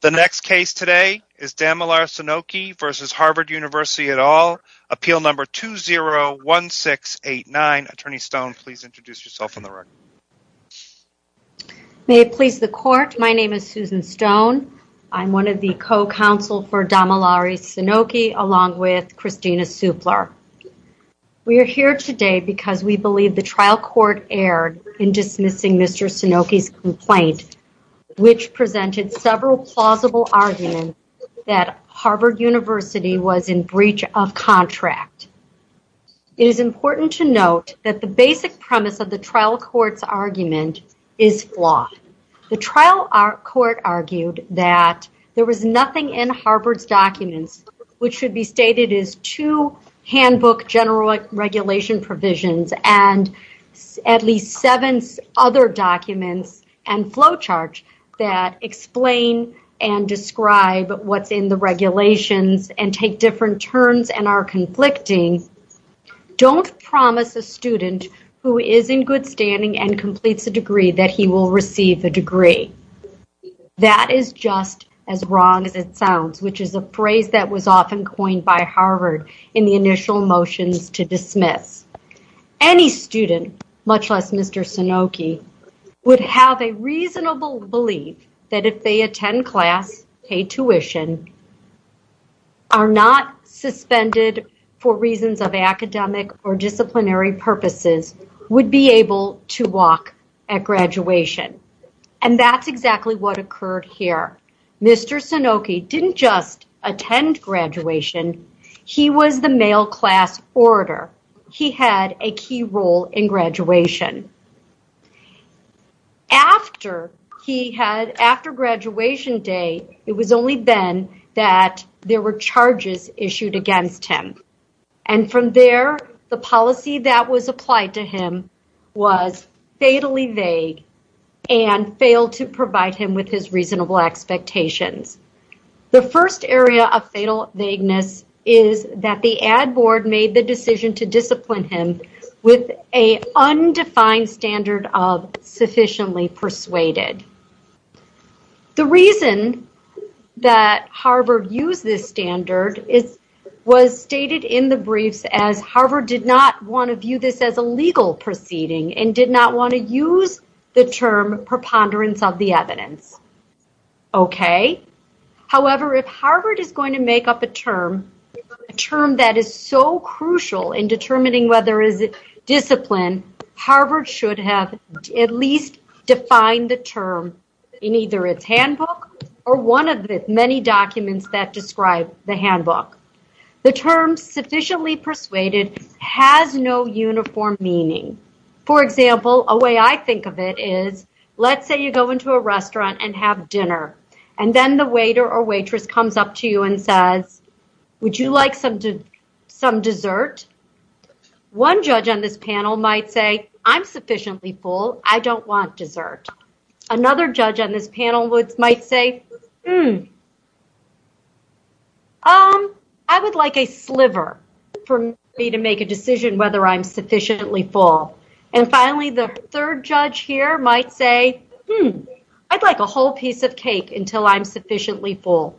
The next case today is Damilare Sunoki versus Harvard University et al. Appeal number 201-689. Attorney Stone, please introduce yourself on the record. May it please the court, my name is Susan Stone. I'm one of the co-counsel for Damilare Sunoki along with Kristina Supler. We are here today because we believe the trial court erred in dismissing Mr. Sunoki's complaint, which presented several plausible arguments that Harvard University was in breach of contract. It is important to note that the basic premise of the trial court's argument is flawed. The trial court argued that there was nothing in Harvard's documents which should be stated as two handbook general regulation provisions and at least seven other documents and flowchart that explain and describe what's in the regulations and take different turns and are conflicting. Don't promise a student who is in good standing and completes a degree that he will receive the degree. That is just as wrong as it sounds, which is a phrase that was often coined by Harvard in the initial motions to dismiss. Any student, much less Mr. Sunoki, would have a reasonable belief that if they attend class, pay tuition, are not suspended for reasons of academic or disciplinary purposes, would be able to walk at graduation. And that's exactly what occurred here. Mr. Sunoki didn't just attend graduation. He was the male class orator. He had a key role in graduation. After he had, after graduation day, it was only then that there were charges issued against him. And from there, the policy that was applied to him was fatally vague and failed to provide him with his reasonable expectations. The first area of fatal vagueness is that the Ad Board made the decision to discipline him with a undefined standard of sufficiently persuaded. The reason that Harvard used this standard is, was stated in the briefs as Harvard did not want to view this as a legal proceeding and did not want to use the term preponderance of the evidence. Okay. However, if Harvard is going to make up a term, a term that is so crucial in determining whether is it discipline, Harvard should have at least defined the term in either its handbook or one of the many documents that describe the handbook. The term sufficiently persuaded has no uniform meaning. For example, a way I think of it is, let's say you go into a restaurant and have dinner, and then the waiter or waitress comes up to you and says, would you like some some dessert? One judge on this panel might say, I'm sufficiently full. I don't want dessert. Another judge on this panel would, might say, hmm, I would like a sliver for me to make a decision whether I'm sufficiently full. And finally, the third judge here might say, hmm, I'd like a whole piece of cake until I'm sufficiently full.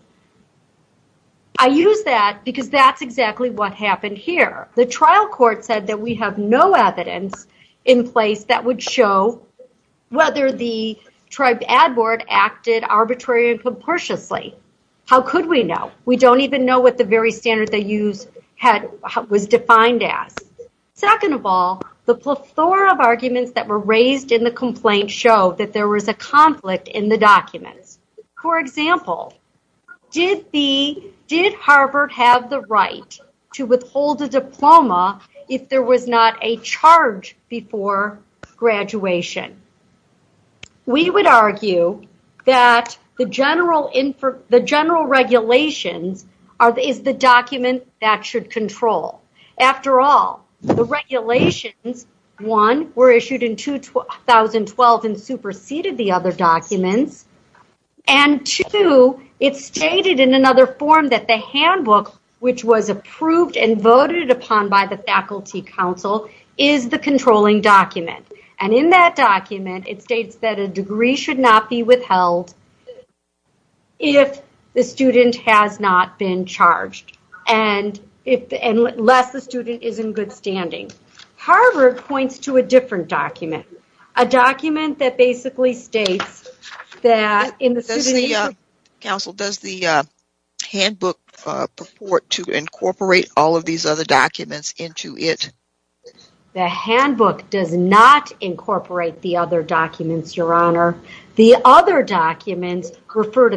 I use that because that's exactly what happened here. The trial court said that we have no evidence in place that would show whether the tribe ad board acted arbitrary and comprehensively. How could we know? We don't even know what the very standard they use had, was defined as. Second of all, the plethora of arguments that were raised in the complaint show that there was a conflict in the documents. For example, did the, did Harvard have the right to withhold a diploma if there was not a charge before graduation? We would argue that the general, the general regulations are, is the document that should control. After all, the regulations, one, were issued in 2012 and superseded the other documents. And two, it's stated in another form that the handbook, which was approved and voted upon by the Faculty Council, is the controlling document. And in that document, it states that a degree should not be withheld if the student has not been charged. And if, unless the student is in good standing. Harvard points to a different document, a document that basically states that in the city... Counsel, does the handbook purport to incorporate all of these other documents into it? The handbook does not incorporate the other documents, Your Honor. The other Do the other documents purport to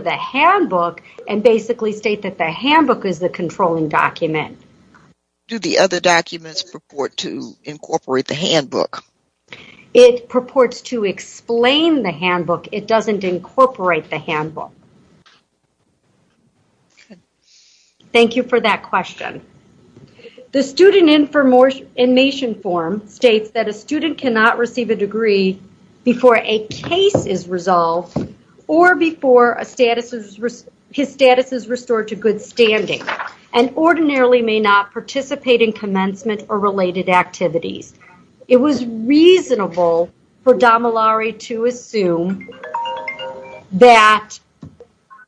incorporate the handbook? It purports to explain the handbook. It doesn't incorporate the handbook. Thank you for that question. The student information form states that a student cannot receive a degree before a case is resolved or before a status is, his status is restored to good standing. And ordinarily may not participate in commencement or related activities. It was reasonable for Domilare to assume that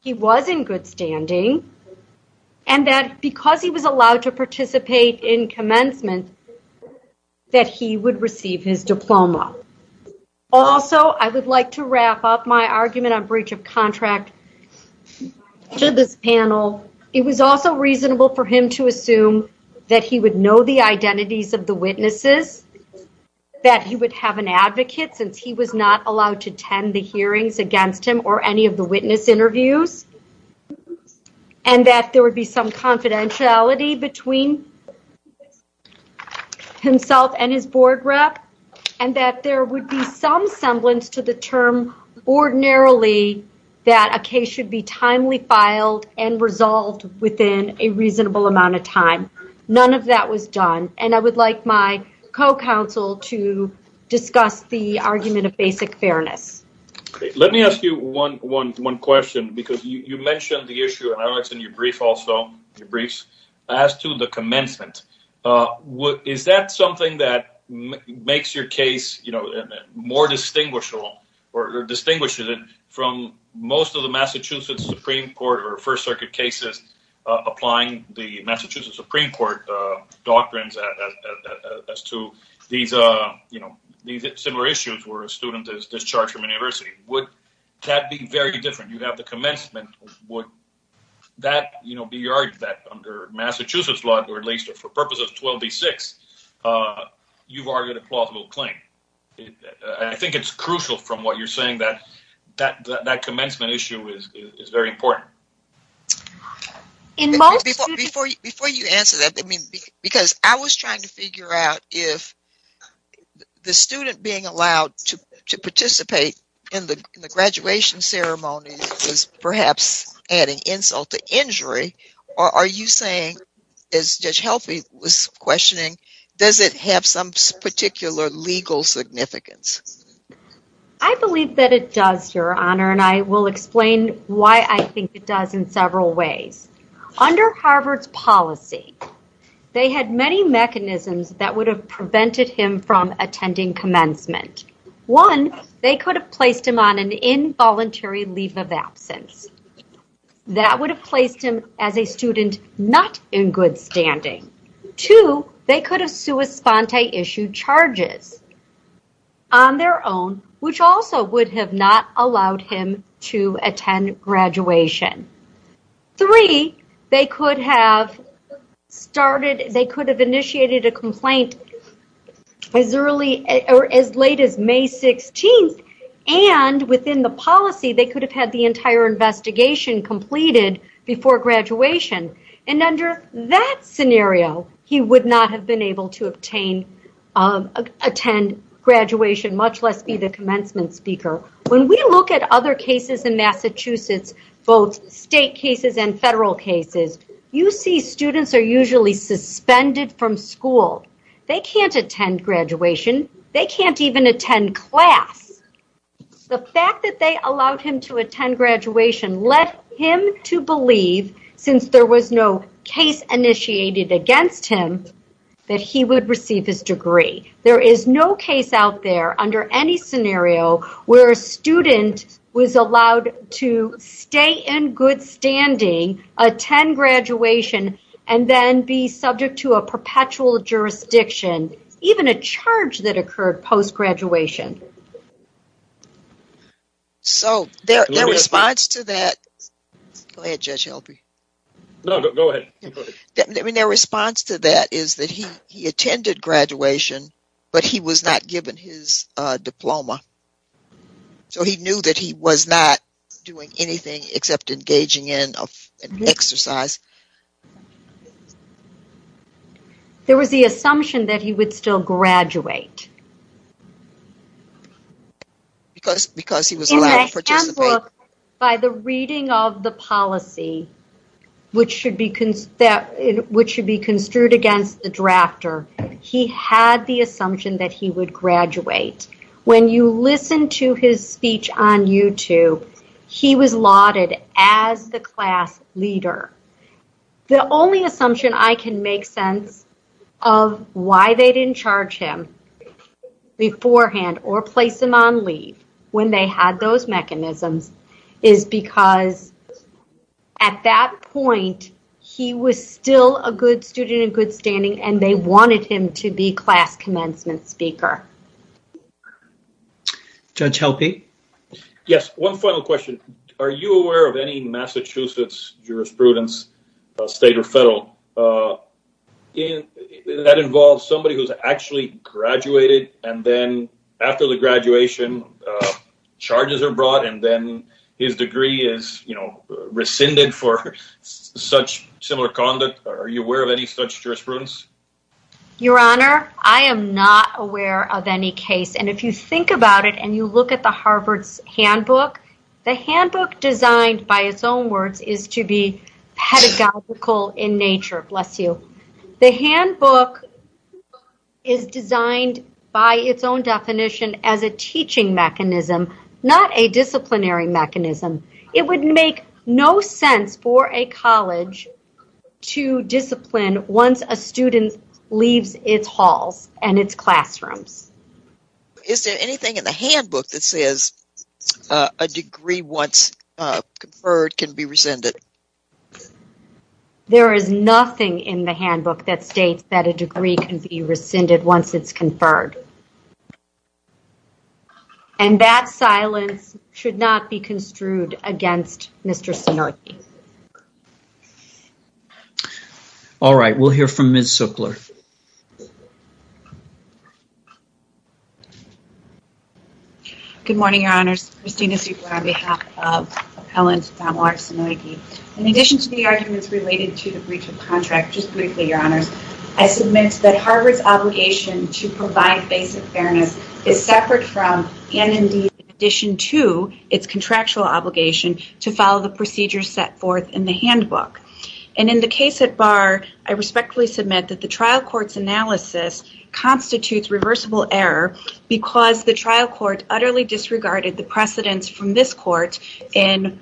he was in good standing and that because he was allowed to participate in commencement, that he would receive his diploma. Also, I would like to wrap up my argument on breach of contract to this panel. It was also reasonable for him to assume that he would know the identities of the witnesses, that he would have an advocate since he was not allowed to attend the hearings against him or any of the witness interviews, and that there would be some confidentiality between himself and his board rep, and that there would be some semblance to the term ordinarily that a case should be timely filed and resolved within a reasonable amount of time. None of that was done, and I would like my co-counsel to discuss the argument of basic fairness. Let me ask you one one one question because you mentioned the issue in your brief also, your briefs, as to the commencement. Is that something that makes your case, you know, more distinguishable or distinguishes it from most of the Massachusetts Supreme Court or First Circuit cases applying the Massachusetts Supreme Court doctrines as to these, you know, these similar issues where a student is discharged from a university. Would that be very different? You have the commencement. Would that, you know, be your argument under Massachusetts law, or at least for purposes of 12b-6? You've argued a plausible claim. I think it's crucial from what you're saying that that that commencement issue is very important. Before you answer that, because I was trying to figure out if the student being allowed to participate in the graduation ceremony is perhaps adding insult to injury, or are you saying, as Judge Helphy was questioning, does it have some particular legal significance? I believe that it does, Your Honor, and I will explain why I think it does in several ways. Under Harvard's policy, they had many mechanisms that would have prevented him from attending commencement. One, they could have placed him on an involuntary leave of absence. That would have placed him as a student not in good standing. Two, they could have sui sponte issued charges on their own, which also would have not allowed him to attend graduation. Three, they could have started, they could have initiated a complaint as early or as late as May 16th, and within the policy, they could have had the entire investigation completed before graduation, and under that scenario, he would not have been able to obtain, attend graduation, much less be the commencement speaker. When we look at other cases in Massachusetts, both state cases and federal cases, you see students are usually suspended from school. They can't attend graduation. They can't even attend class. The fact that they allowed him to attend graduation led him to believe, since there was no case initiated against him, that he would receive his degree. There is no case out there under any scenario where a student was allowed to stay in good standing, attend graduation, and then be subject to a perpetual jurisdiction, even a charge that occurred post-graduation. So, their response to that, I mean, their response to that is that he attended graduation, but he was not given his diploma. So, he knew that he was not doing anything except engaging in an exercise. There was the assumption that he would still graduate. Because he was allowed to participate. By the reading of the policy, which should be construed against the drafter, he had the assumption that he would graduate. When you listen to his speech on YouTube, he was lauded as the class leader. The only assumption I can make sense of why they didn't charge him beforehand or place him on leave when they had those mechanisms is because at that point, he was still a good student in good standing and they wanted him to be class commencement speaker. Judge Helpe? Yes, one final question. Are you aware of any Massachusetts jurisprudence, state or federal, that involves somebody who's actually graduated and then after the graduation, charges are brought and then his degree is, you know, rescinded for such similar conduct. Are you aware of any such jurisprudence? Your Honor, I am not aware of any case. And if you think about it and you look at the Harvard's handbook, the handbook designed by its own words is to be pedagogical in nature, bless you. The handbook is designed by its own definition as a teaching mechanism, not a disciplinary mechanism. It would make no sense for a college to discipline once a student leaves its halls and its classrooms. Is there anything in the handbook that says a degree once conferred can be rescinded? There is nothing in the handbook that states that a degree can be rescinded once it's conferred. And that silence should not be construed against Mr. Sanoiki. All right, we'll hear from Ms. Zuckler. Good morning, Your Honors. Christina Zuckler on behalf of Appellant Don Larsen-Sanoiki. In addition to the arguments related to the breach of contract, just briefly, Your Honors, I submit that Harvard's obligation to provide basic fairness is separate from, and indeed, in addition to, its contractual obligation to follow the procedures set forth in the handbook. And in the case at Bar, I respectfully submit that the trial court's analysis constitutes reversible error because the trial court utterly disregarded the precedence from this court in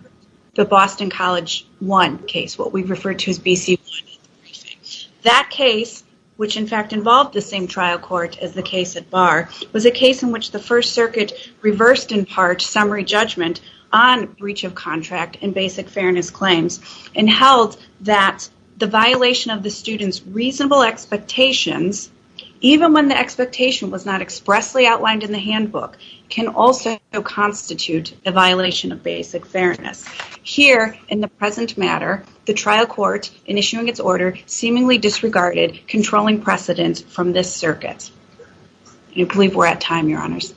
the Boston College 1 case, what we refer to as BC 1. That case, which in fact involved the same trial court as the case at Bar, was a case in which the First Circuit reversed, in part, summary judgment on breach of contract and basic fairness claims and held that the violation of the students reasonable expectations, even when the expectation was not expressly outlined in the handbook, can also constitute a violation of basic fairness. Here, in the present matter, the trial court, in issuing its order, seemingly disregarded controlling precedence from this circuit. I believe we're at time, Your Honors.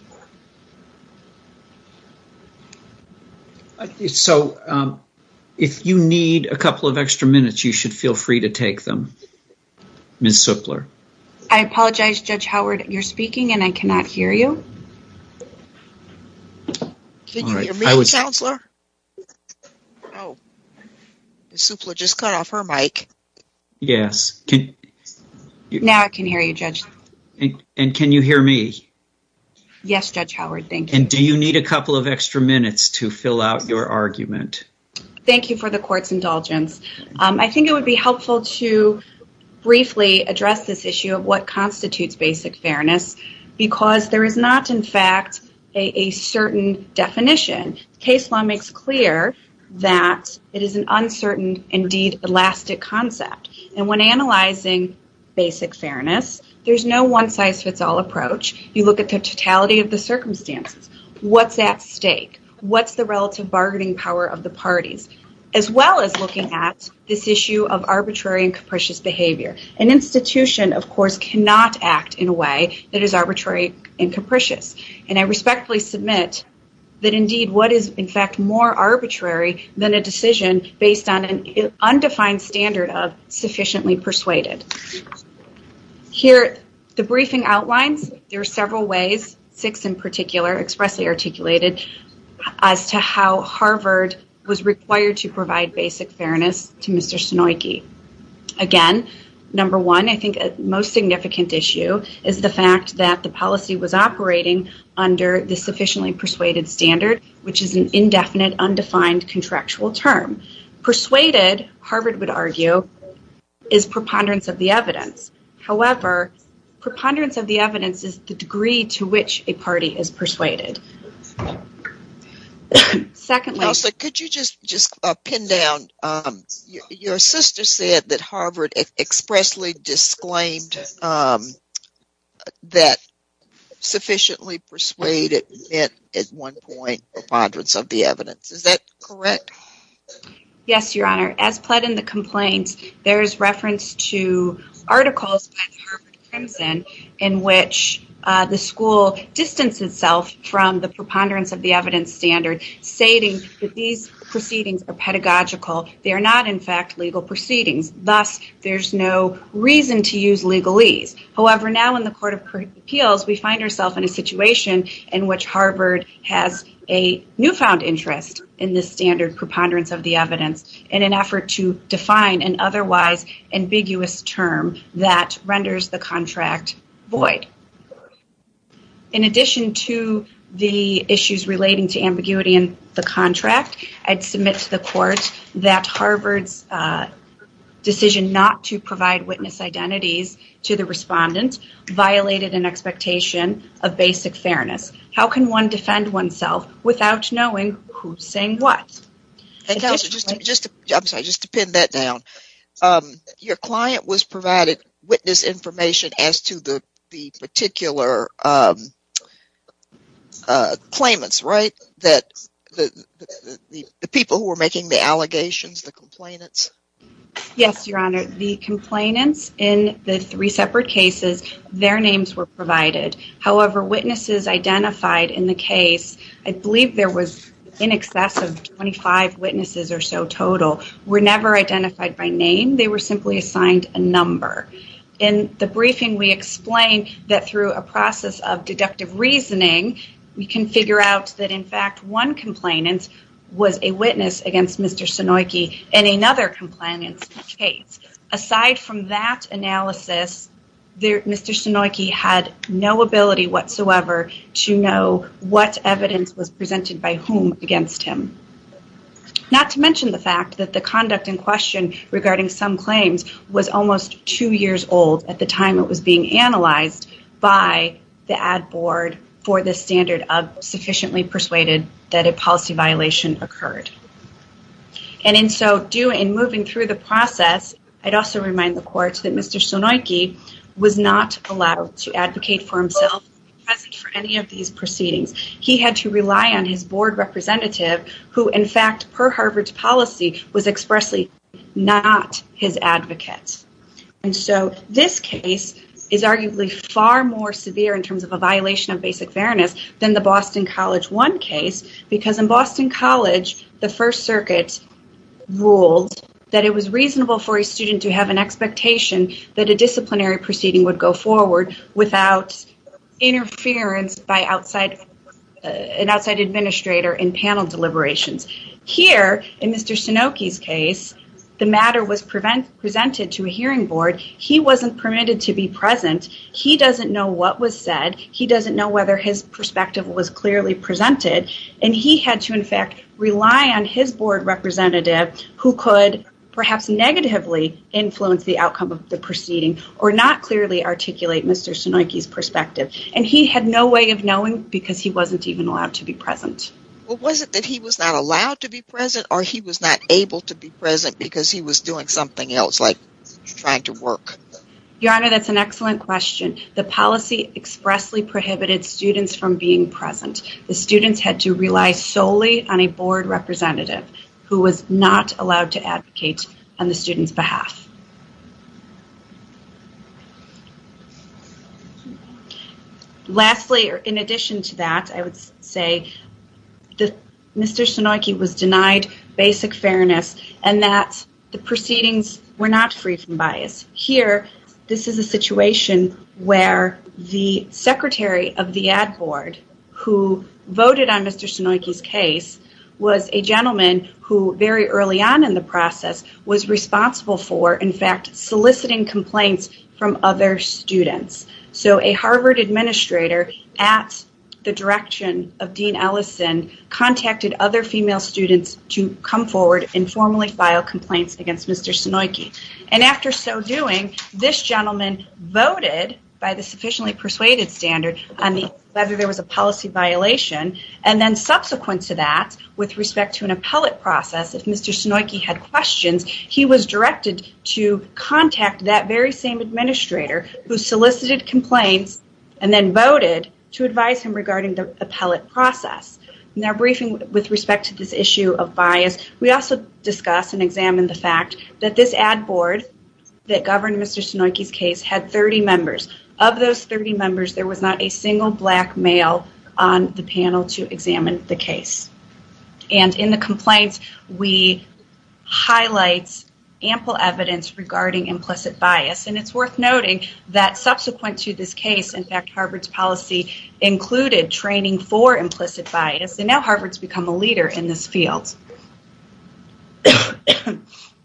So, if you need a couple of extra minutes, you should feel free to take them, Ms. Zuckler. I apologize, Judge Howard, you're speaking and I cannot hear you. Can you hear me, Counselor? Ms. Zuckler just cut off her mic. Yes. Now I can hear you, Judge. And can you hear me? Yes, Judge Howard. Thank you. And do you need a couple of extra minutes to fill out your argument? Thank you for the court's indulgence. I think it would be helpful to briefly address this issue of what constitutes basic fairness because there is not, in fact, a certain definition. Case law makes clear that it is an uncertain, indeed, elastic concept. And when analyzing basic fairness, there's no one-size-fits-all approach. You look at the totality of the circumstances. What's at stake? What's the relative bargaining power of the parties? As well as looking at this issue of arbitrary and capricious behavior. An institution, of course, cannot act in a way that is arbitrary and capricious. And I respectfully submit that, indeed, what is, in fact, more arbitrary than a decision based on an undefined standard of sufficiently persuaded. Here, the briefing outlines, there are several ways, six in particular, expressly articulated, as to how Harvard was required to provide basic fairness to Mr. Sunoiki. Again, number one, I think a most significant issue is the fact that the policy was operating under the sufficiently persuaded standard, which is an indefinite, undefined, contractual term. Persuaded, Harvard would argue, is preponderance of the evidence. However, preponderance of the evidence is the degree to which a party is persuaded. Also, could you just just pin down, your sister said that Harvard expressly disclaimed that sufficiently persuaded meant, at one point, preponderance of the evidence. Is that correct? Yes, Your Honor. As pled in the complaints, there is reference to articles by the Harvard Crimson in which the school distanced itself from the preponderance of the evidence standard, stating that these proceedings are pedagogical. They are not, in fact, legal proceedings. Thus, there's no reason to use legalese. However, now in the Court of Appeals, we find ourselves in a situation in which Harvard has a newfound interest in this standard, preponderance of the evidence, in an effort to define an otherwise ambiguous term that renders the contract void. In addition to the issues relating to ambiguity in the contract, I'd submit to the court that Harvard's decision not to provide witness identities to the respondent violated an expectation of basic fairness. How can one defend oneself without knowing who's saying what? I'm sorry, just to pin that down. Your client was provided witness information as to the particular claimants, right? The people who were making the allegations, the complainants. Yes, Your Honor. The complainants, in the three separate cases, their names were provided. However, witnesses identified in the case, I believe there was in excess of 25 witnesses or so total, were never identified by name. They were simply assigned a number. In the briefing, we explain that through a process of deductive reasoning, we can figure out that, in fact, one complainant was a witness against Mr. Sunoiki in another complainant's case. Aside from that analysis, Mr. Sunoiki had no ability whatsoever to know what evidence was presented by whom against him. Not to mention the fact that the conduct in question regarding some claims was almost two years old at the time it was being analyzed by the ad board for the standard of sufficiently persuaded that a policy violation occurred. And in so doing, moving through the process, I'd also remind the courts that Mr. Sunoiki was not allowed to advocate for himself present for any of these proceedings. He had to rely on his board representative, who, in fact, per Harvard's policy, was expressly not his advocate. And so this case is arguably far more severe in terms of a violation of basic fairness than the Boston College One case, because in Boston College, the First Circuit ruled that it was reasonable for a student to have an expectation that a disciplinary proceeding would go forward without interference by an outside administrator in panel deliberations. Here, in Mr. Sunoiki's case, the matter was presented to a hearing board. He wasn't permitted to be present. He doesn't know what was said. He doesn't know whether his perspective was clearly presented. And he had to, in fact, rely on his board representative, who could perhaps negatively influence the outcome of the proceeding, or not clearly articulate Mr. Sunoiki's perspective. And he had no way of knowing because he wasn't even allowed to be present. Well, was it that he was not allowed to be present, or he was not able to be present because he was doing something else, like trying to work? Your Honor, that's an excellent question. The policy expressly prohibited students from being present. The students had to rely solely on a board representative, who was not allowed to advocate on the student's behalf. Lastly, or in addition to that, I would say that Mr. Sunoiki was denied basic fairness, and that the proceedings were not free from bias. Here, this is a situation where the Secretary of the Ad Board, who voted on Mr. Sunoiki's case, was a gentleman who, very early on in the process, was responsible for, in fact, soliciting complaints from other students. So a Harvard administrator, at the direction of Dean Ellison, contacted other female students to come forward and formally file complaints against Mr. Sunoiki. And after so doing, this gentleman voted, by the sufficiently persuaded standard, on whether there was a policy violation, and then subsequent to that, with respect to an appellate process, if Mr. Sunoiki had questions, he was directed to contact that very same administrator, who solicited complaints, and then voted to advise him regarding the appellate process. In our briefing with respect to this issue of bias, we also discuss and examine the fact that this Ad Board that governed Mr. Sunoiki's case had 30 members. Of those 30 members, there was not a single black male on the panel to examine the case. And in the complaints, we highlight ample evidence regarding implicit bias, and it's worth noting that subsequent to this case, in fact, Harvard's policy included training for implicit bias, and now Harvard's become a leader in this field.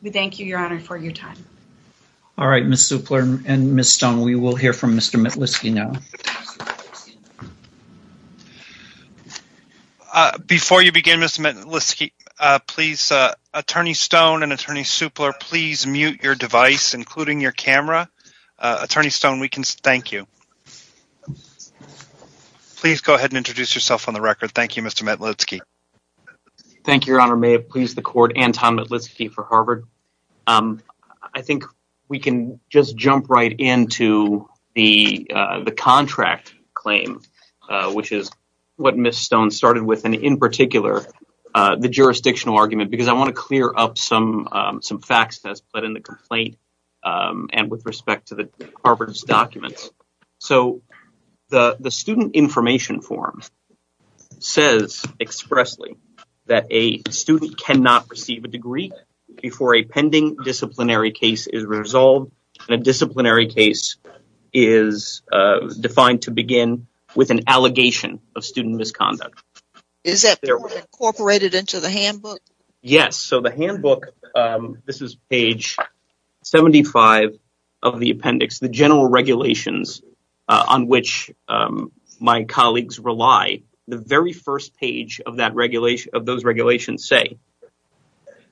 We thank you, Your Honor, for your time. All right, Ms. Supler and Ms. Stone, we will hear from Mr. Metlitsky now. Before you begin, Mr. Metlitsky, please, Attorney Stone and Attorney Supler, please mute your device, including your camera. Attorney Stone, we can thank you. Please go ahead and introduce yourself on the record. Thank you, Mr. Metlitsky. Thank you, Your Honor. May it please the court, Anton Metlitsky for Harvard. I think we can just jump right into the contract claim, which is what Ms. Stone started with, and in particular the jurisdictional argument, because I want to clear up some facts that's put in the complaint and with respect to Harvard's documents. So the student information form says expressly that a student cannot receive a degree before a pending disciplinary case is resolved, and a disciplinary case is defined to begin with an allegation of student misconduct. Is that incorporated into the handbook? Yes, so the handbook, this is page 75 of the appendix, the general regulations on which my colleagues rely. The very first page of that regulation, of those regulations say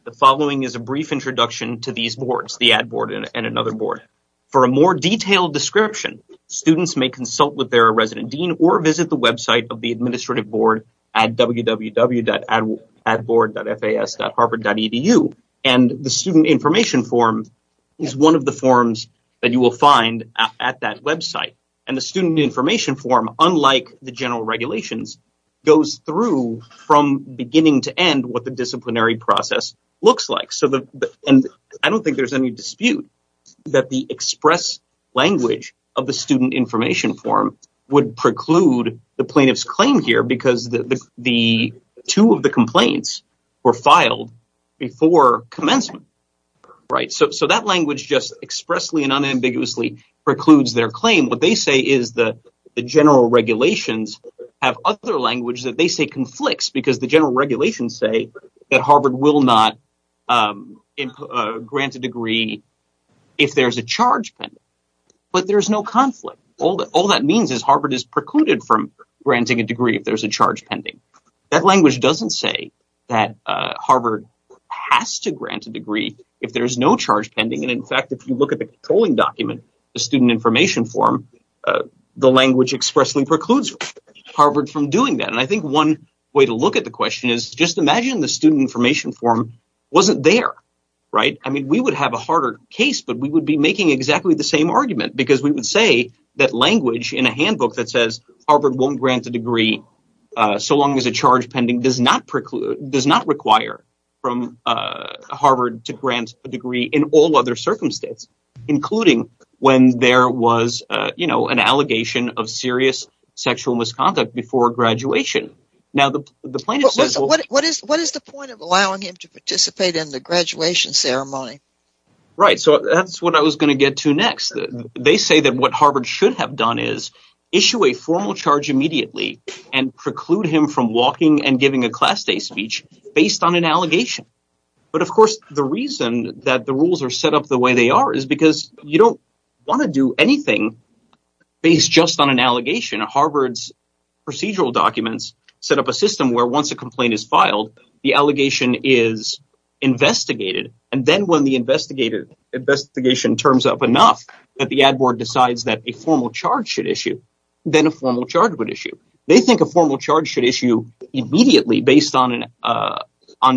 the following is a brief introduction to these boards, the Ad Board and another board. For a more detailed description, students may consult with their resident dean or visit the website of the Administrative Board at www.adboard.fas.harvard.edu, and the student information form is one of the forms that you will find at that website, and the student information form, unlike the general regulations, goes through from beginning to end what the disciplinary process looks like. So the, and I don't think there's any dispute that the express language of the student information form would preclude the plaintiff's claim here because the two of the complaints were filed before commencement. Right, so that language just expressly and unambiguously precludes their claim. What they say is the general regulations have other language that they say conflicts because the general regulations say that Harvard will not grant a degree if there's a charge, but there's no conflict. All that means is Harvard is precluded from granting a degree if there's a charge pending. That language doesn't say that Harvard will grant a degree if there's no charge pending, and in fact, if you look at the controlling document, the student information form, the language expressly precludes Harvard from doing that, and I think one way to look at the question is just imagine the student information form wasn't there, right? I mean, we would have a harder case, but we would be making exactly the same argument because we would say that language in a handbook that says Harvard won't grant a degree so long as a charge pending does not preclude, does not require from Harvard to grant a degree in all other circumstance, including when there was, you know, an allegation of serious sexual misconduct before graduation. Now the plaintiff says... What is the point of allowing him to participate in the graduation ceremony? Right, so that's what I was going to get to next. They say that what Harvard should have done is issue a formal charge immediately and preclude him from walking and giving a class day speech based on an allegation. But of course, the reason that the rules are set up the way they are is because you don't want to do anything based just on an allegation. Harvard's procedural documents set up a system where once a complaint is filed, the allegation is investigated, and then when the investigated investigation turns up enough that the ad board decides that a formal charge should issue, then a formal charge would issue. They think a formal charge should issue immediately based on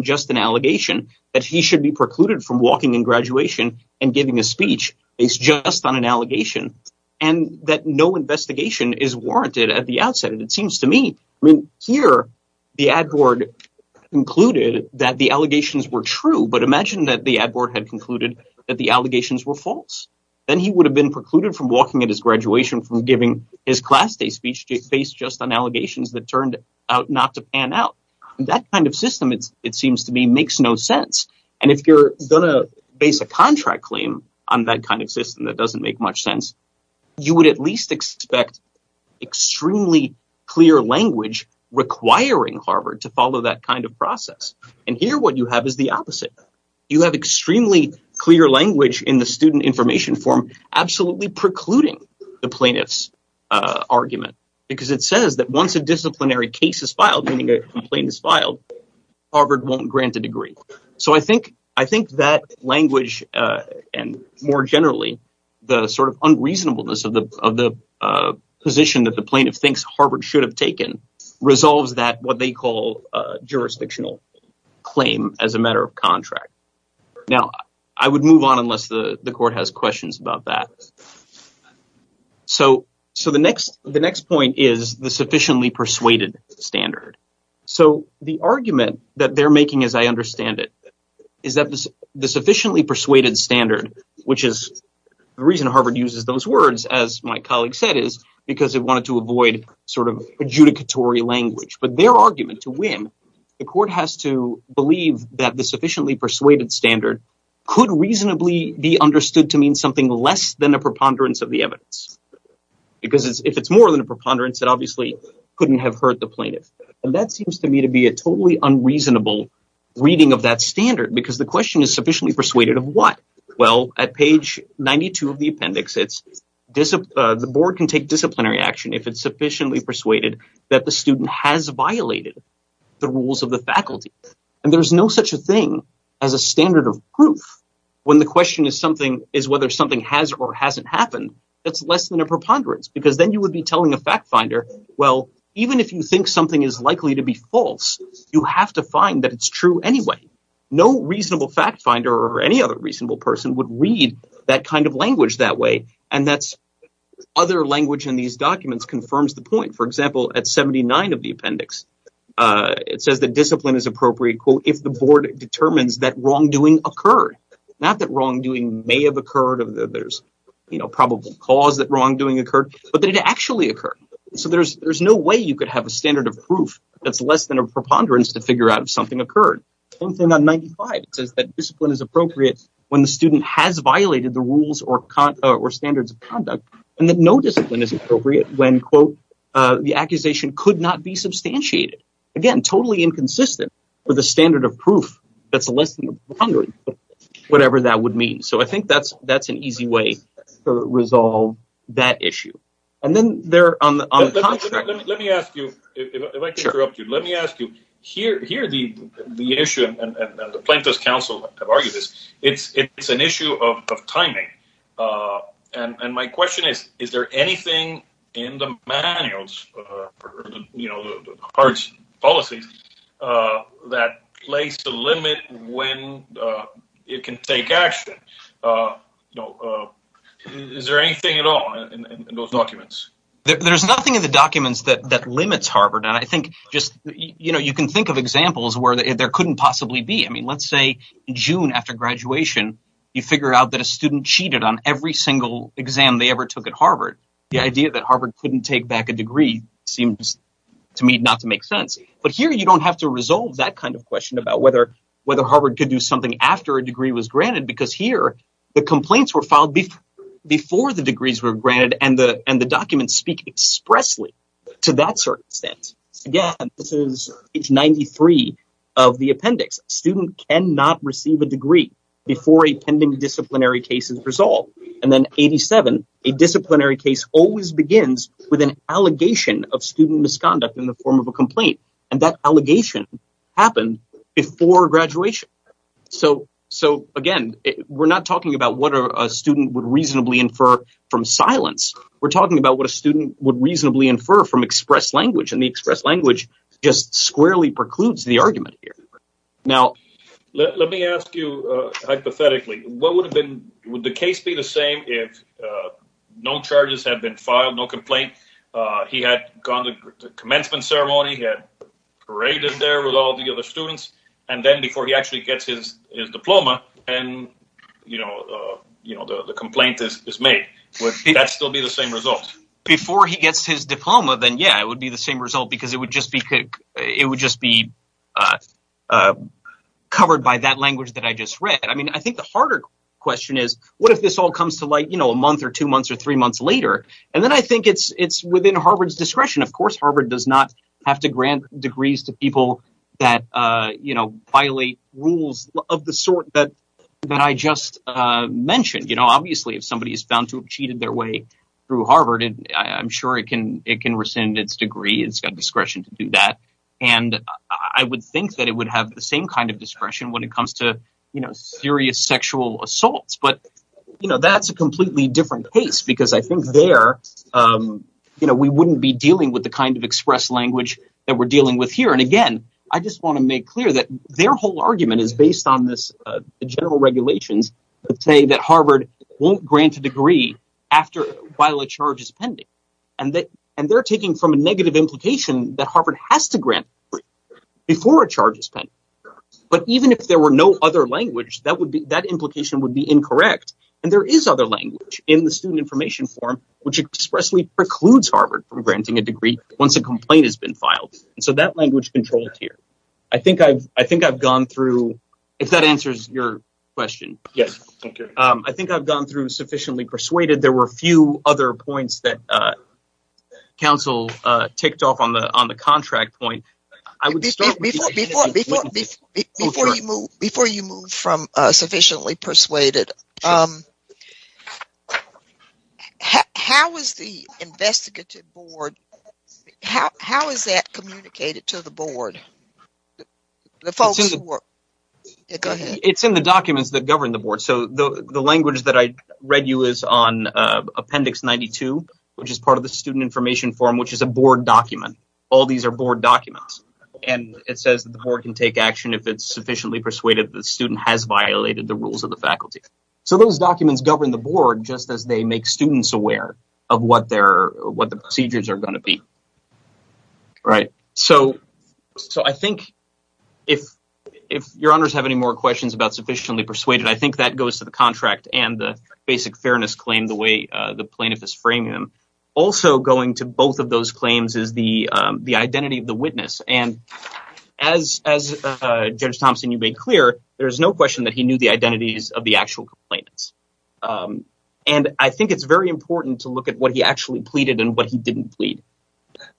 just an allegation, that he should be precluded from walking in graduation and giving a speech based just on an allegation, and that no investigation is warranted at the outset. It seems to me, I mean, here the ad board concluded that the allegations were true, but imagine that the ad board had concluded that the allegations were false. Then he would have been precluded from walking at his graduation, from giving his class day speech based just on allegations that turned out not to pan out. That kind of system, it seems to me, makes no sense. And if you're gonna base a contract claim on that kind of system, that doesn't make much sense. You would at least expect extremely clear language requiring Harvard to follow that kind of process. And here what you have is the opposite. You have extremely clear language in the student information form, absolutely precluding the plaintiff's argument, because it says that once a disciplinary case is filed, meaning a complaint is filed, Harvard won't grant a degree. So I think that language, and more generally the sort of unreasonableness of the position that the plaintiff thinks Harvard should have taken, resolves that what they call jurisdictional claim as a matter of contract. Now, I would move on unless the the court has questions about that. So the next point is the sufficiently persuaded standard. So the argument that they're making, as I understand it, is that the sufficiently persuaded standard, which is the reason Harvard uses those words, as my colleague said, is because they wanted to avoid sort of adjudicatory language. But their argument, to win, the court has to believe that the sufficiently persuaded standard could reasonably be understood to mean something less than a preponderance of the evidence. Because if it's more than a preponderance, it obviously couldn't have hurt the plaintiff. And that seems to me to be a totally unreasonable reading of that standard, because the question is sufficiently persuaded of what? Well, at page 92 of the appendix, the board can take disciplinary action if it's sufficiently persuaded that the student has proof. When the question is whether something has or hasn't happened, it's less than a preponderance, because then you would be telling a fact finder, well, even if you think something is likely to be false, you have to find that it's true anyway. No reasonable fact finder or any other reasonable person would read that kind of language that way. And that's other language in these documents confirms the point. For example, at 79 of the appendix, it says that discipline is appropriate, quote, if the board determines that wrongdoing occurred. Not that wrongdoing may have occurred, that there's, you know, probable cause that wrongdoing occurred, but that it actually occurred. So there's no way you could have a standard of proof that's less than a preponderance to figure out if something occurred. Same thing on 95. It says that discipline is appropriate when the student has violated the rules or standards of conduct, and that no discipline is appropriate when, quote, the accusation could not be substantiated. Again, totally inconsistent with the standard of proof that's less than a preponderance, whatever that would mean. So I think that's an easy way to resolve that issue. And then there on the contrary... Let me ask you, if I can interrupt you, let me ask you, here the issue, and the Plaintiffs' Council have argued this, it's an issue of timing. And my question is, is there anything in the manuals, you know, the H.A.R.V.E.'s policies, that lays the limit when it can take action? Is there anything at all in those documents? There's nothing in the documents that limits Harvard, and I think just, you know, you can think of examples where there couldn't possibly be. I mean, let's say June after graduation, you figure out that a student cheated on every single exam they ever took at Harvard. The idea that Harvard couldn't take back a degree seems, to me, not to make sense. But here you don't have to resolve that kind of question about whether Harvard could do something after a degree was granted, because here the complaints were filed before the degrees were granted, and the documents speak expressly to that circumstance. Again, this is page 93 of the appendix. A student cannot receive a degree before a pending disciplinary case is resolved. And then 87, a disciplinary case always begins with an allegation of student misconduct in the form of a complaint, and that allegation happened before graduation. So, again, we're not talking about what a student would reasonably infer from silence, we're talking about what a student would reasonably infer from express language, and the express language just squarely precludes the argument here. Now, let me ask you hypothetically, what would have been, would the case be the same if no charges had been filed, no complaint, he had gone to the commencement ceremony, he had paraded there with all the other students, and then before he actually gets his diploma, and you know, the complaint is made, would that still be the same result? Before he gets his diploma, then yeah, it would be the same result, because it would just be covered by that language that I just read. I mean, I think the harder question is, what if this all comes to light, you know, a month or two months or three months later, and then I think it's within Harvard's discretion. Of course, Harvard does not have to grant degrees to people that, you know, violate rules of the sort that I just mentioned, you know, obviously, if somebody is found to have cheated their way through Harvard, I'm sure it can rescind its degree, it's got discretion to do that, and I would think that it would have the same kind of discretion when it comes to, you know, serious sexual assaults, but you know, that's a completely different case, because I think there, you know, we wouldn't be dealing with the kind of express language that we're dealing with here, and again, I just want to make clear that their whole argument is based on this, the general regulations that say that Harvard won't grant a degree after, while a charge is pending, and they're taking from a negative implication that Harvard has to grant before a charge is pending, but even if there were no other language, that would be, that implication would be incorrect, and there is other language in the student information form which expressly precludes Harvard from granting a degree once a complaint has been filed, and so that language controls here. I think I've gone through, if that answers your question, yes, I think I've gone through sufficiently persuaded, there were a few other points that council ticked off on the contract point. Before you move from sufficiently persuaded, how is the investigative board, how is that communicated to the board? It's in the documents that govern the board, so the language that I read you is on appendix 92, which is part of the student information form, which is a board document, all these are board documents, and it says that the board can take action if it's sufficiently persuaded that the student has violated the rules of the faculty, so those documents govern the board just as they make students aware of what the procedures are going to be, right? So I think if your honors have any more questions about sufficiently persuaded, I think that goes to the contract and the basic fairness claim, the way the plaintiff is framing them. Also going to both of those claims is the identity of the witness, and as Judge Thompson, you made clear, there's no question that he knew the identities of the actual complainants, and I think it's very important to look at what he actually pleaded and what he didn't plead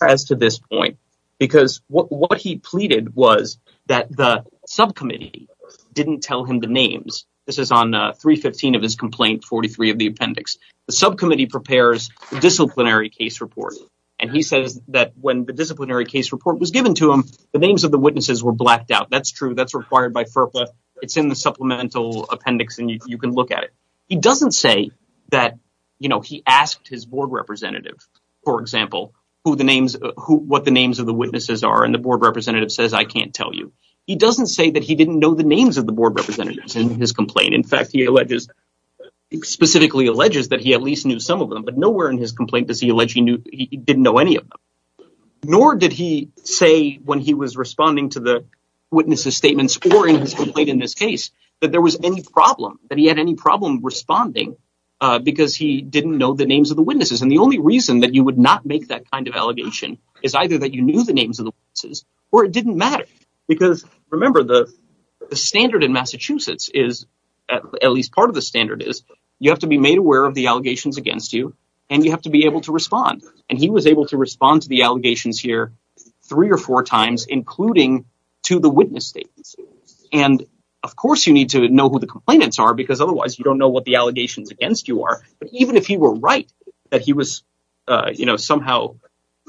as to this point, because what he pleaded was that the subcommittee didn't tell him the names. This is on 315 of his complaint, 43 of the appendix. The subcommittee prepares the disciplinary case report, and he says that when the disciplinary case report was given to him, the names of the witnesses were blacked out. That's true, that's required by FERPA, it's in the supplemental appendix, and you can look at it. He doesn't say that, you know, he asked his board representative, for example, what the names of the witnesses are, and the board representative says, I can't tell you. He doesn't say that he didn't know the names of the witnesses. He specifically alleges that he at least knew some of them, but nowhere in his complaint does he allege he didn't know any of them, nor did he say when he was responding to the witnesses' statements or in his complaint in this case that there was any problem, that he had any problem responding because he didn't know the names of the witnesses, and the only reason that you would not make that kind of allegation is either that you knew the names of the witnesses or it didn't matter, because remember, the standard in Massachusetts is, at least part of the standard is, you have to be made aware of the allegations against you, and you have to be able to respond, and he was able to respond to the allegations here three or four times, including to the witness statements, and of course you need to know who the complainants are because otherwise you don't know what the allegations against you are, but even if he were right that he was, you know, somehow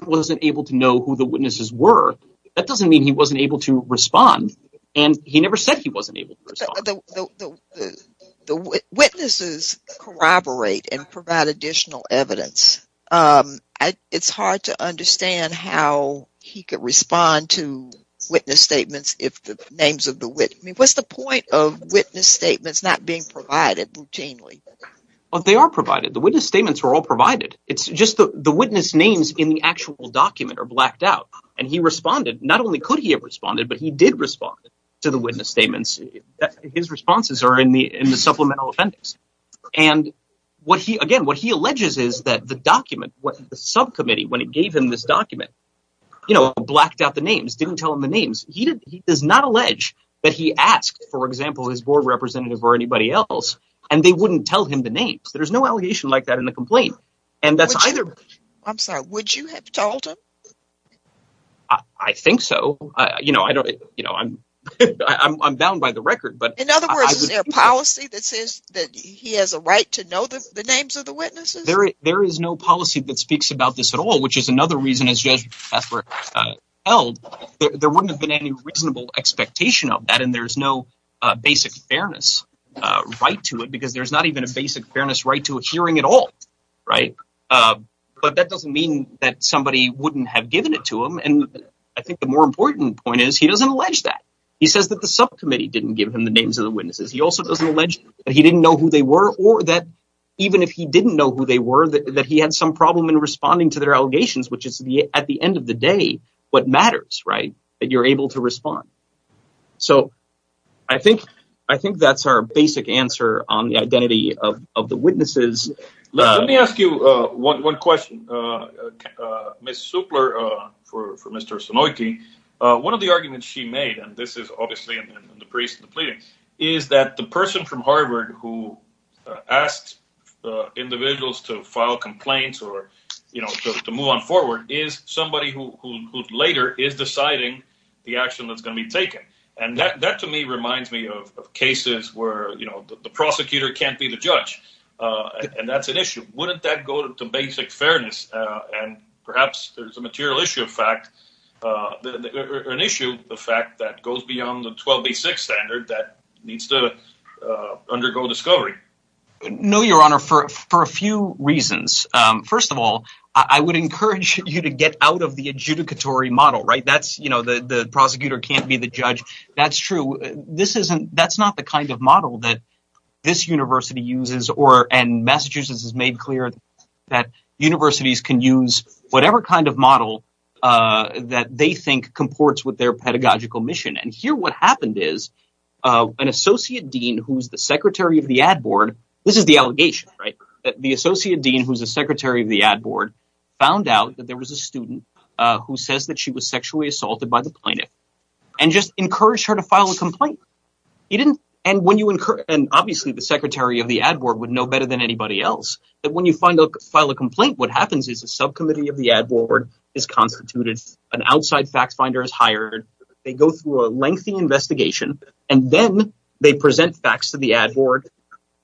wasn't able to know who the witnesses were, that doesn't mean he wasn't able to respond, and he never said he wasn't able to respond. The witnesses corroborate and provide additional evidence. It's hard to understand how he could respond to witness statements if the names of the witness... I mean, what's the point of witness statements not being provided routinely? Well, they are provided. The witness statements are all provided. It's just the witness names in the actual document are blacked out, and he responded. Not only could he have responded, but he did respond to the witness statements. His responses are in the supplemental offenders, and again, what he alleges is that the document, the subcommittee, when it gave him this document, you know, blacked out the names, didn't tell him the names. He does not allege that he asked, for example, his board representative or anybody else, and they wouldn't tell him the names. There's no allegation like that in the complaint, and that's either... I'm sorry, would you have told him? I think so. You know, I'm bound by the record, but... In other words, is there a policy that says that he has a right to know the names of the witnesses? There is no policy that speaks about this at all, which is another reason, as Judge Hathaway held, there wouldn't have been any reasonable expectation of that, and there's no basic fairness right to it, because there's not even a basic fairness right to a hearing at all, right? But that doesn't mean that somebody wouldn't have given it to him, and I think the more important point is he doesn't allege that. He says that the subcommittee didn't give him the names of the witnesses. He also doesn't allege that he didn't know who they were, or that even if he didn't know who they were, that he had some problem in responding to their allegations, which is, at the end of the day, what matters, right? That you're able to respond. So, I think that's our basic answer on the identity of the witnesses. Let me ask you one question, Ms. Supler, for Mr. Sunoiki. One of the arguments she made, and this is obviously in the priest's pleading, is that the person from Harvard who asked individuals to file complaints or, you know, to move on forward, is somebody who later is taken, and that to me reminds me of cases where, you know, the prosecutor can't be the judge, and that's an issue. Wouldn't that go to basic fairness, and perhaps there's a material issue of fact, an issue of fact that goes beyond the 12B6 standard that needs to undergo discovery? No, Your Honor, for a few reasons. First of all, I would encourage you to get out of the That's true. That's not the kind of model that this university uses, and Massachusetts has made clear that universities can use whatever kind of model that they think comports with their pedagogical mission, and here what happened is, an associate dean who's the secretary of the ad board, this is the allegation, right? The associate dean who's the secretary of the ad board found out that there was a student who says that she was sexually assaulted by the plaintiff, and just encouraged her to file a complaint. He didn't, and when you, and obviously the secretary of the ad board would know better than anybody else, that when you find a file a complaint, what happens is a subcommittee of the ad board is constituted, an outside fact finder is hired, they go through a lengthy investigation, and then they present facts to the ad board.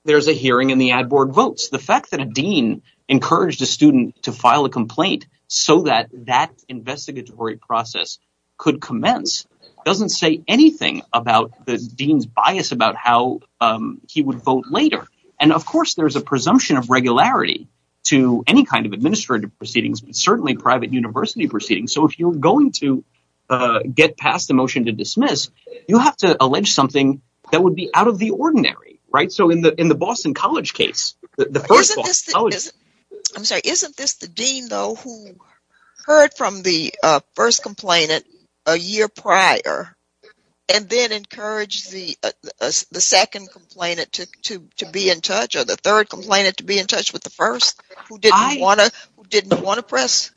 There's a hearing, and the ad board votes. The fact that a dean encouraged a student to file a complaint so that that investigatory process could commence doesn't say anything about the dean's bias about how he would vote later, and of course there's a presumption of regularity to any kind of administrative proceedings, but certainly private university proceedings, so if you're going to get past the motion to dismiss, you have to allege something that would be out of the ordinary, right? So in the in the Boston College case, the first... I'm sorry, isn't this the dean though who heard from the first complainant a year prior, and then encouraged the second complainant to be in touch, or the third complainant to be in touch with the first, who didn't want to press?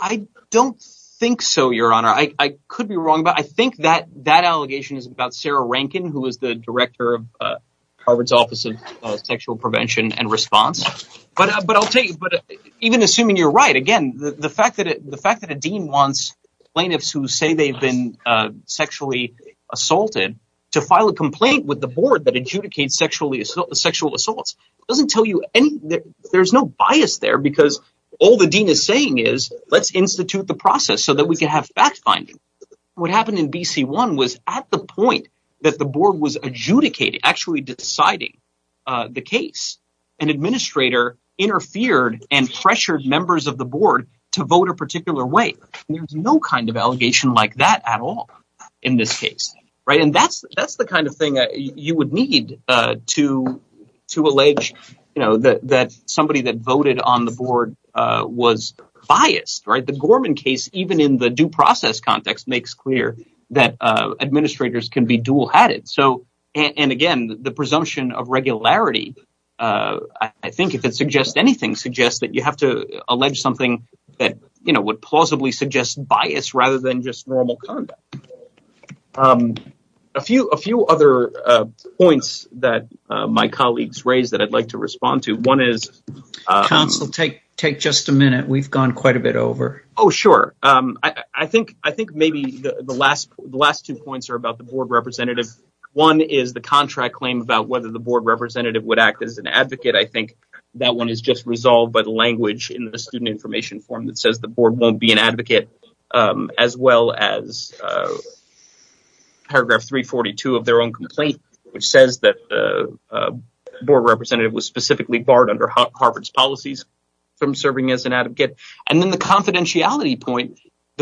I don't think so, your honor. I could be wrong, but I think that that allegation is about Sarah Rankin, who is the director of Harvard's Office of Sexual Prevention and Response, but I'll tell you, even assuming you're right, again, the fact that a dean wants plaintiffs who say they've been sexually assaulted to file a complaint with the board that adjudicates sexual assaults doesn't tell you anything. There's no bias there, because all the dean is saying is, let's institute the process so that we can have fact-finding. What happened in BC1 was, at the point that the board was adjudicating, actually deciding the case, an administrator interfered and pressured members of the board to vote a particular way. There's no kind of allegation like that at all in this case, right? And that's the kind of thing you would need to allege, you know, that somebody that in the due process context makes clear that administrators can be dual-hatted. And again, the presumption of regularity, I think if it suggests anything, suggests that you have to allege something that, you know, would plausibly suggest bias rather than just normal conduct. A few other points that my colleagues raised that I'd like to respond to, one is... I think maybe the last two points are about the board representative. One is the contract claim about whether the board representative would act as an advocate. I think that one is just resolved by the language in the student information form that says the board won't be an advocate, as well as paragraph 342 of their own complaint, which says that the board representative was specifically barred under Harvard's policies from serving as an advocate. And then the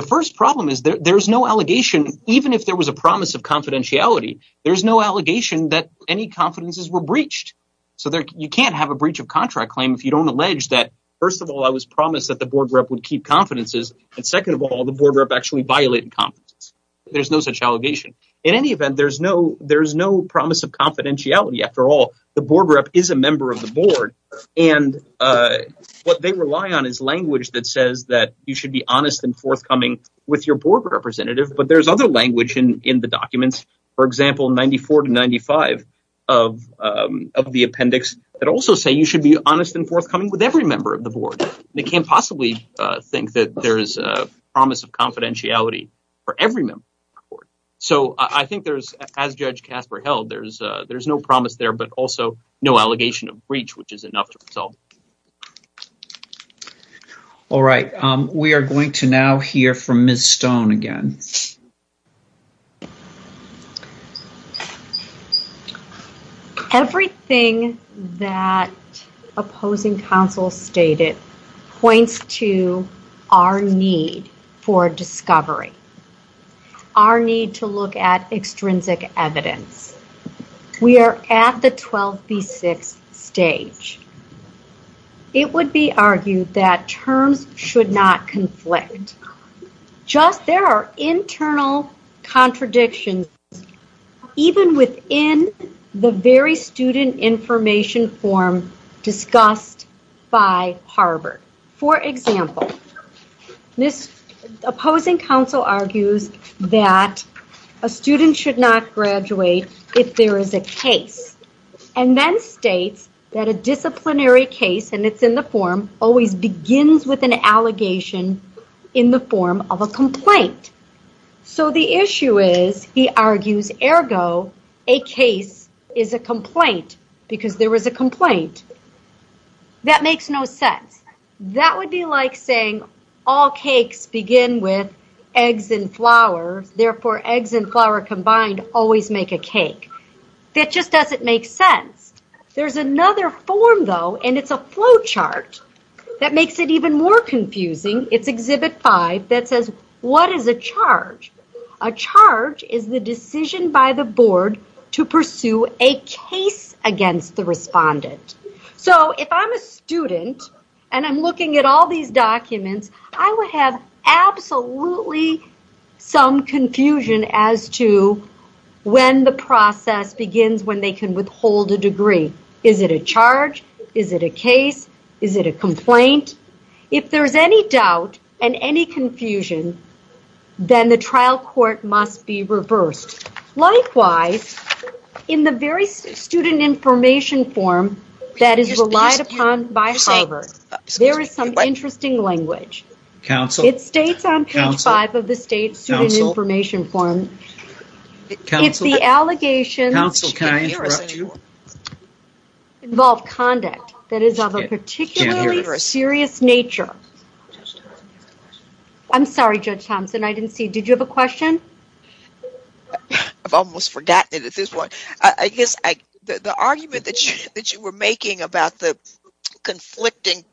first problem is there's no allegation, even if there was a promise of confidentiality, there's no allegation that any confidences were breached. So you can't have a breach of contract claim if you don't allege that, first of all, I was promised that the board rep would keep confidences. And second of all, the board rep actually violated confidences. There's no such allegation. In any event, there's no promise of confidentiality. After all, the board rep is a member of the board. And what they rely on is language that says that you should be honest and forthcoming with your board representative. But there's other language in the documents, for example, 94 to 95 of the appendix that also say you should be honest and forthcoming with every member of the board. They can't possibly think that there's a promise of confidentiality for every member of the board. So I think there's, as Judge Casper held, there's no promise there, but also no allegation of breach, which is enough to resolve. All right. We are going to now hear from Ms. Stone again. Everything that opposing counsel stated points to our need for discovery. Our need to look at it would be argued that terms should not conflict. Just there are internal contradictions even within the very student information form discussed by Harvard. For example, this opposing counsel argues that a student should not graduate if there is a case, and then states that a disciplinary case, and it's in the form, always begins with an allegation in the form of a complaint. So the issue is, he argues, ergo, a case is a complaint because there was a complaint. That makes no sense. That would be like saying all cakes begin with eggs and flour, therefore eggs and flour combined always make a cake. That just doesn't make sense. There's another form, though, and it's a flow chart that makes it even more confusing. It's Exhibit 5 that says, what is a charge? A charge is the decision by the board to pursue a case against the respondent. So if I'm a student and I'm looking at all these documents, I would have absolutely some confusion as to when the process begins, when they can withhold a degree. Is it a charge? Is it a case? Is it a complaint? If there's any doubt and any confusion, then the trial court must be reversed. Likewise, in the very student information form that is relied upon by Harvard, there is some interesting language. It states on page five of the student information form, if the allegations involve conduct that is of a particularly serious nature. I'm sorry, Judge Thompson, I didn't see, did you have a question? I've almost forgotten it at this point. I guess the argument that you were making about the conflicting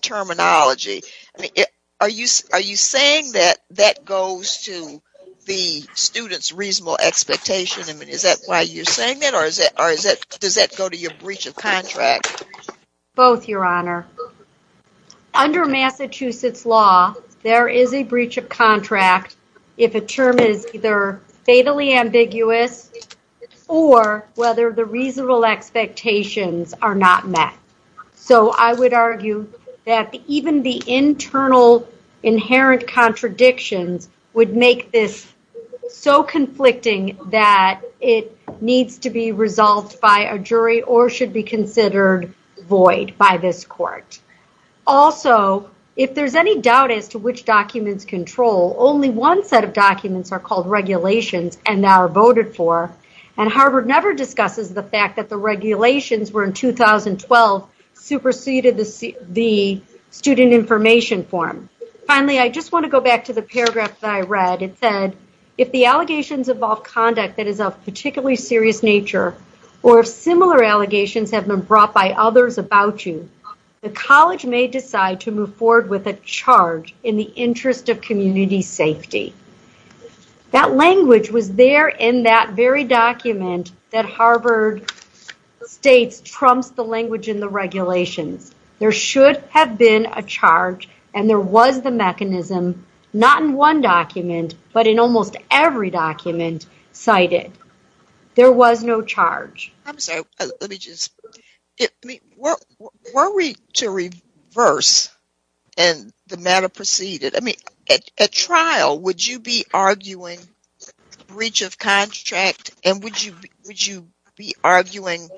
terminology, are you saying that that goes to the student's reasonable expectation? I mean, is that why you're saying that? Or does that go to your breach of contract? Both, Your Honor. Under Massachusetts law, there is a breach of contract if a term is either fatally ambiguous or whether the reasonable expectations are not met. So I would argue that even the internal inherent contradictions would make this so conflicting that it needs to be resolved by a jury or should be considered void by this court. Also, if there's any doubt as to which documents control, only one set of documents are called regulations and are voted for and Harvard never discusses the fact that the regulations were in 2012 superseded the student information form. Finally, I just want to go back to the paragraph that I read. It said, if the allegations involve conduct that is of particularly serious nature or if similar allegations have been brought by others about you, the college may decide to move forward with a charge in the interest of community safety. That language was there in that very document that Harvard states trumps the language in the regulations. There should have been a charge and there was the mechanism, not in one document, but in almost every document cited. There was no charge. I'm sorry, let me just, I mean, were we to reverse and the matter proceeded? I mean, at trial, would you be arguing breach of contract and would you be arguing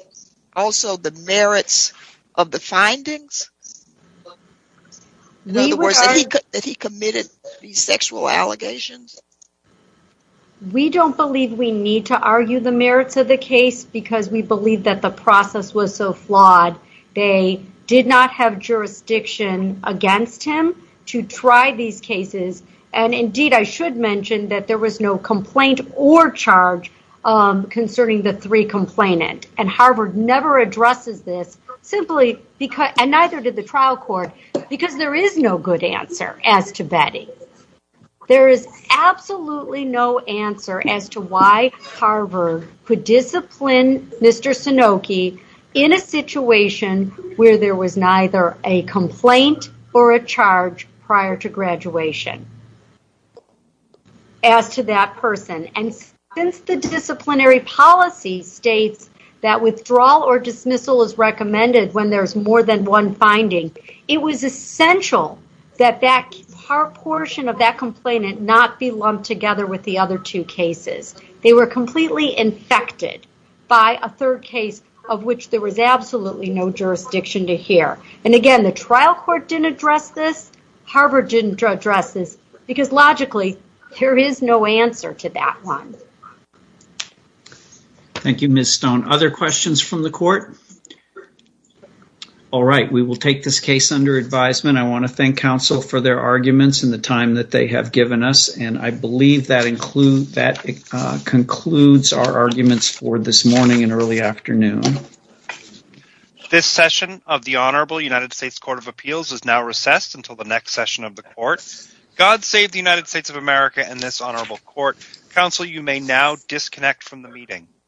also the merits of the findings? In other words, that he committed these sexual allegations? We don't believe we need to argue the merits of the case because we believe that the process was so flawed. They did not have jurisdiction against him to try these cases and indeed, I should mention that there was no complaint or charge concerning the three complainant and Harvard never addresses this simply because, and neither did the trial court, because there is no good answer as to Betty. There is absolutely no answer as to why Harvard could discipline Mr. Sanoky in a situation where there was neither a complaint or a charge prior to graduation as to that person. And since the disciplinary policy states that withdrawal or dismissal is recommended when there's more than one finding, it was essential that that portion of that complainant not be lumped together with the other two cases. They were completely infected by a third case of which there was absolutely no jurisdiction to address this because logically, there is no answer to that one. Thank you, Ms. Stone. Other questions from the court? All right, we will take this case under advisement. I want to thank counsel for their arguments and the time that they have given us and I believe that concludes our arguments for this morning and early afternoon. This session of the Honorable United States Court of Appeals is now recessed until the next session of the court. God save the United States of America and this honorable court. Counsel, you may now disconnect from the meeting.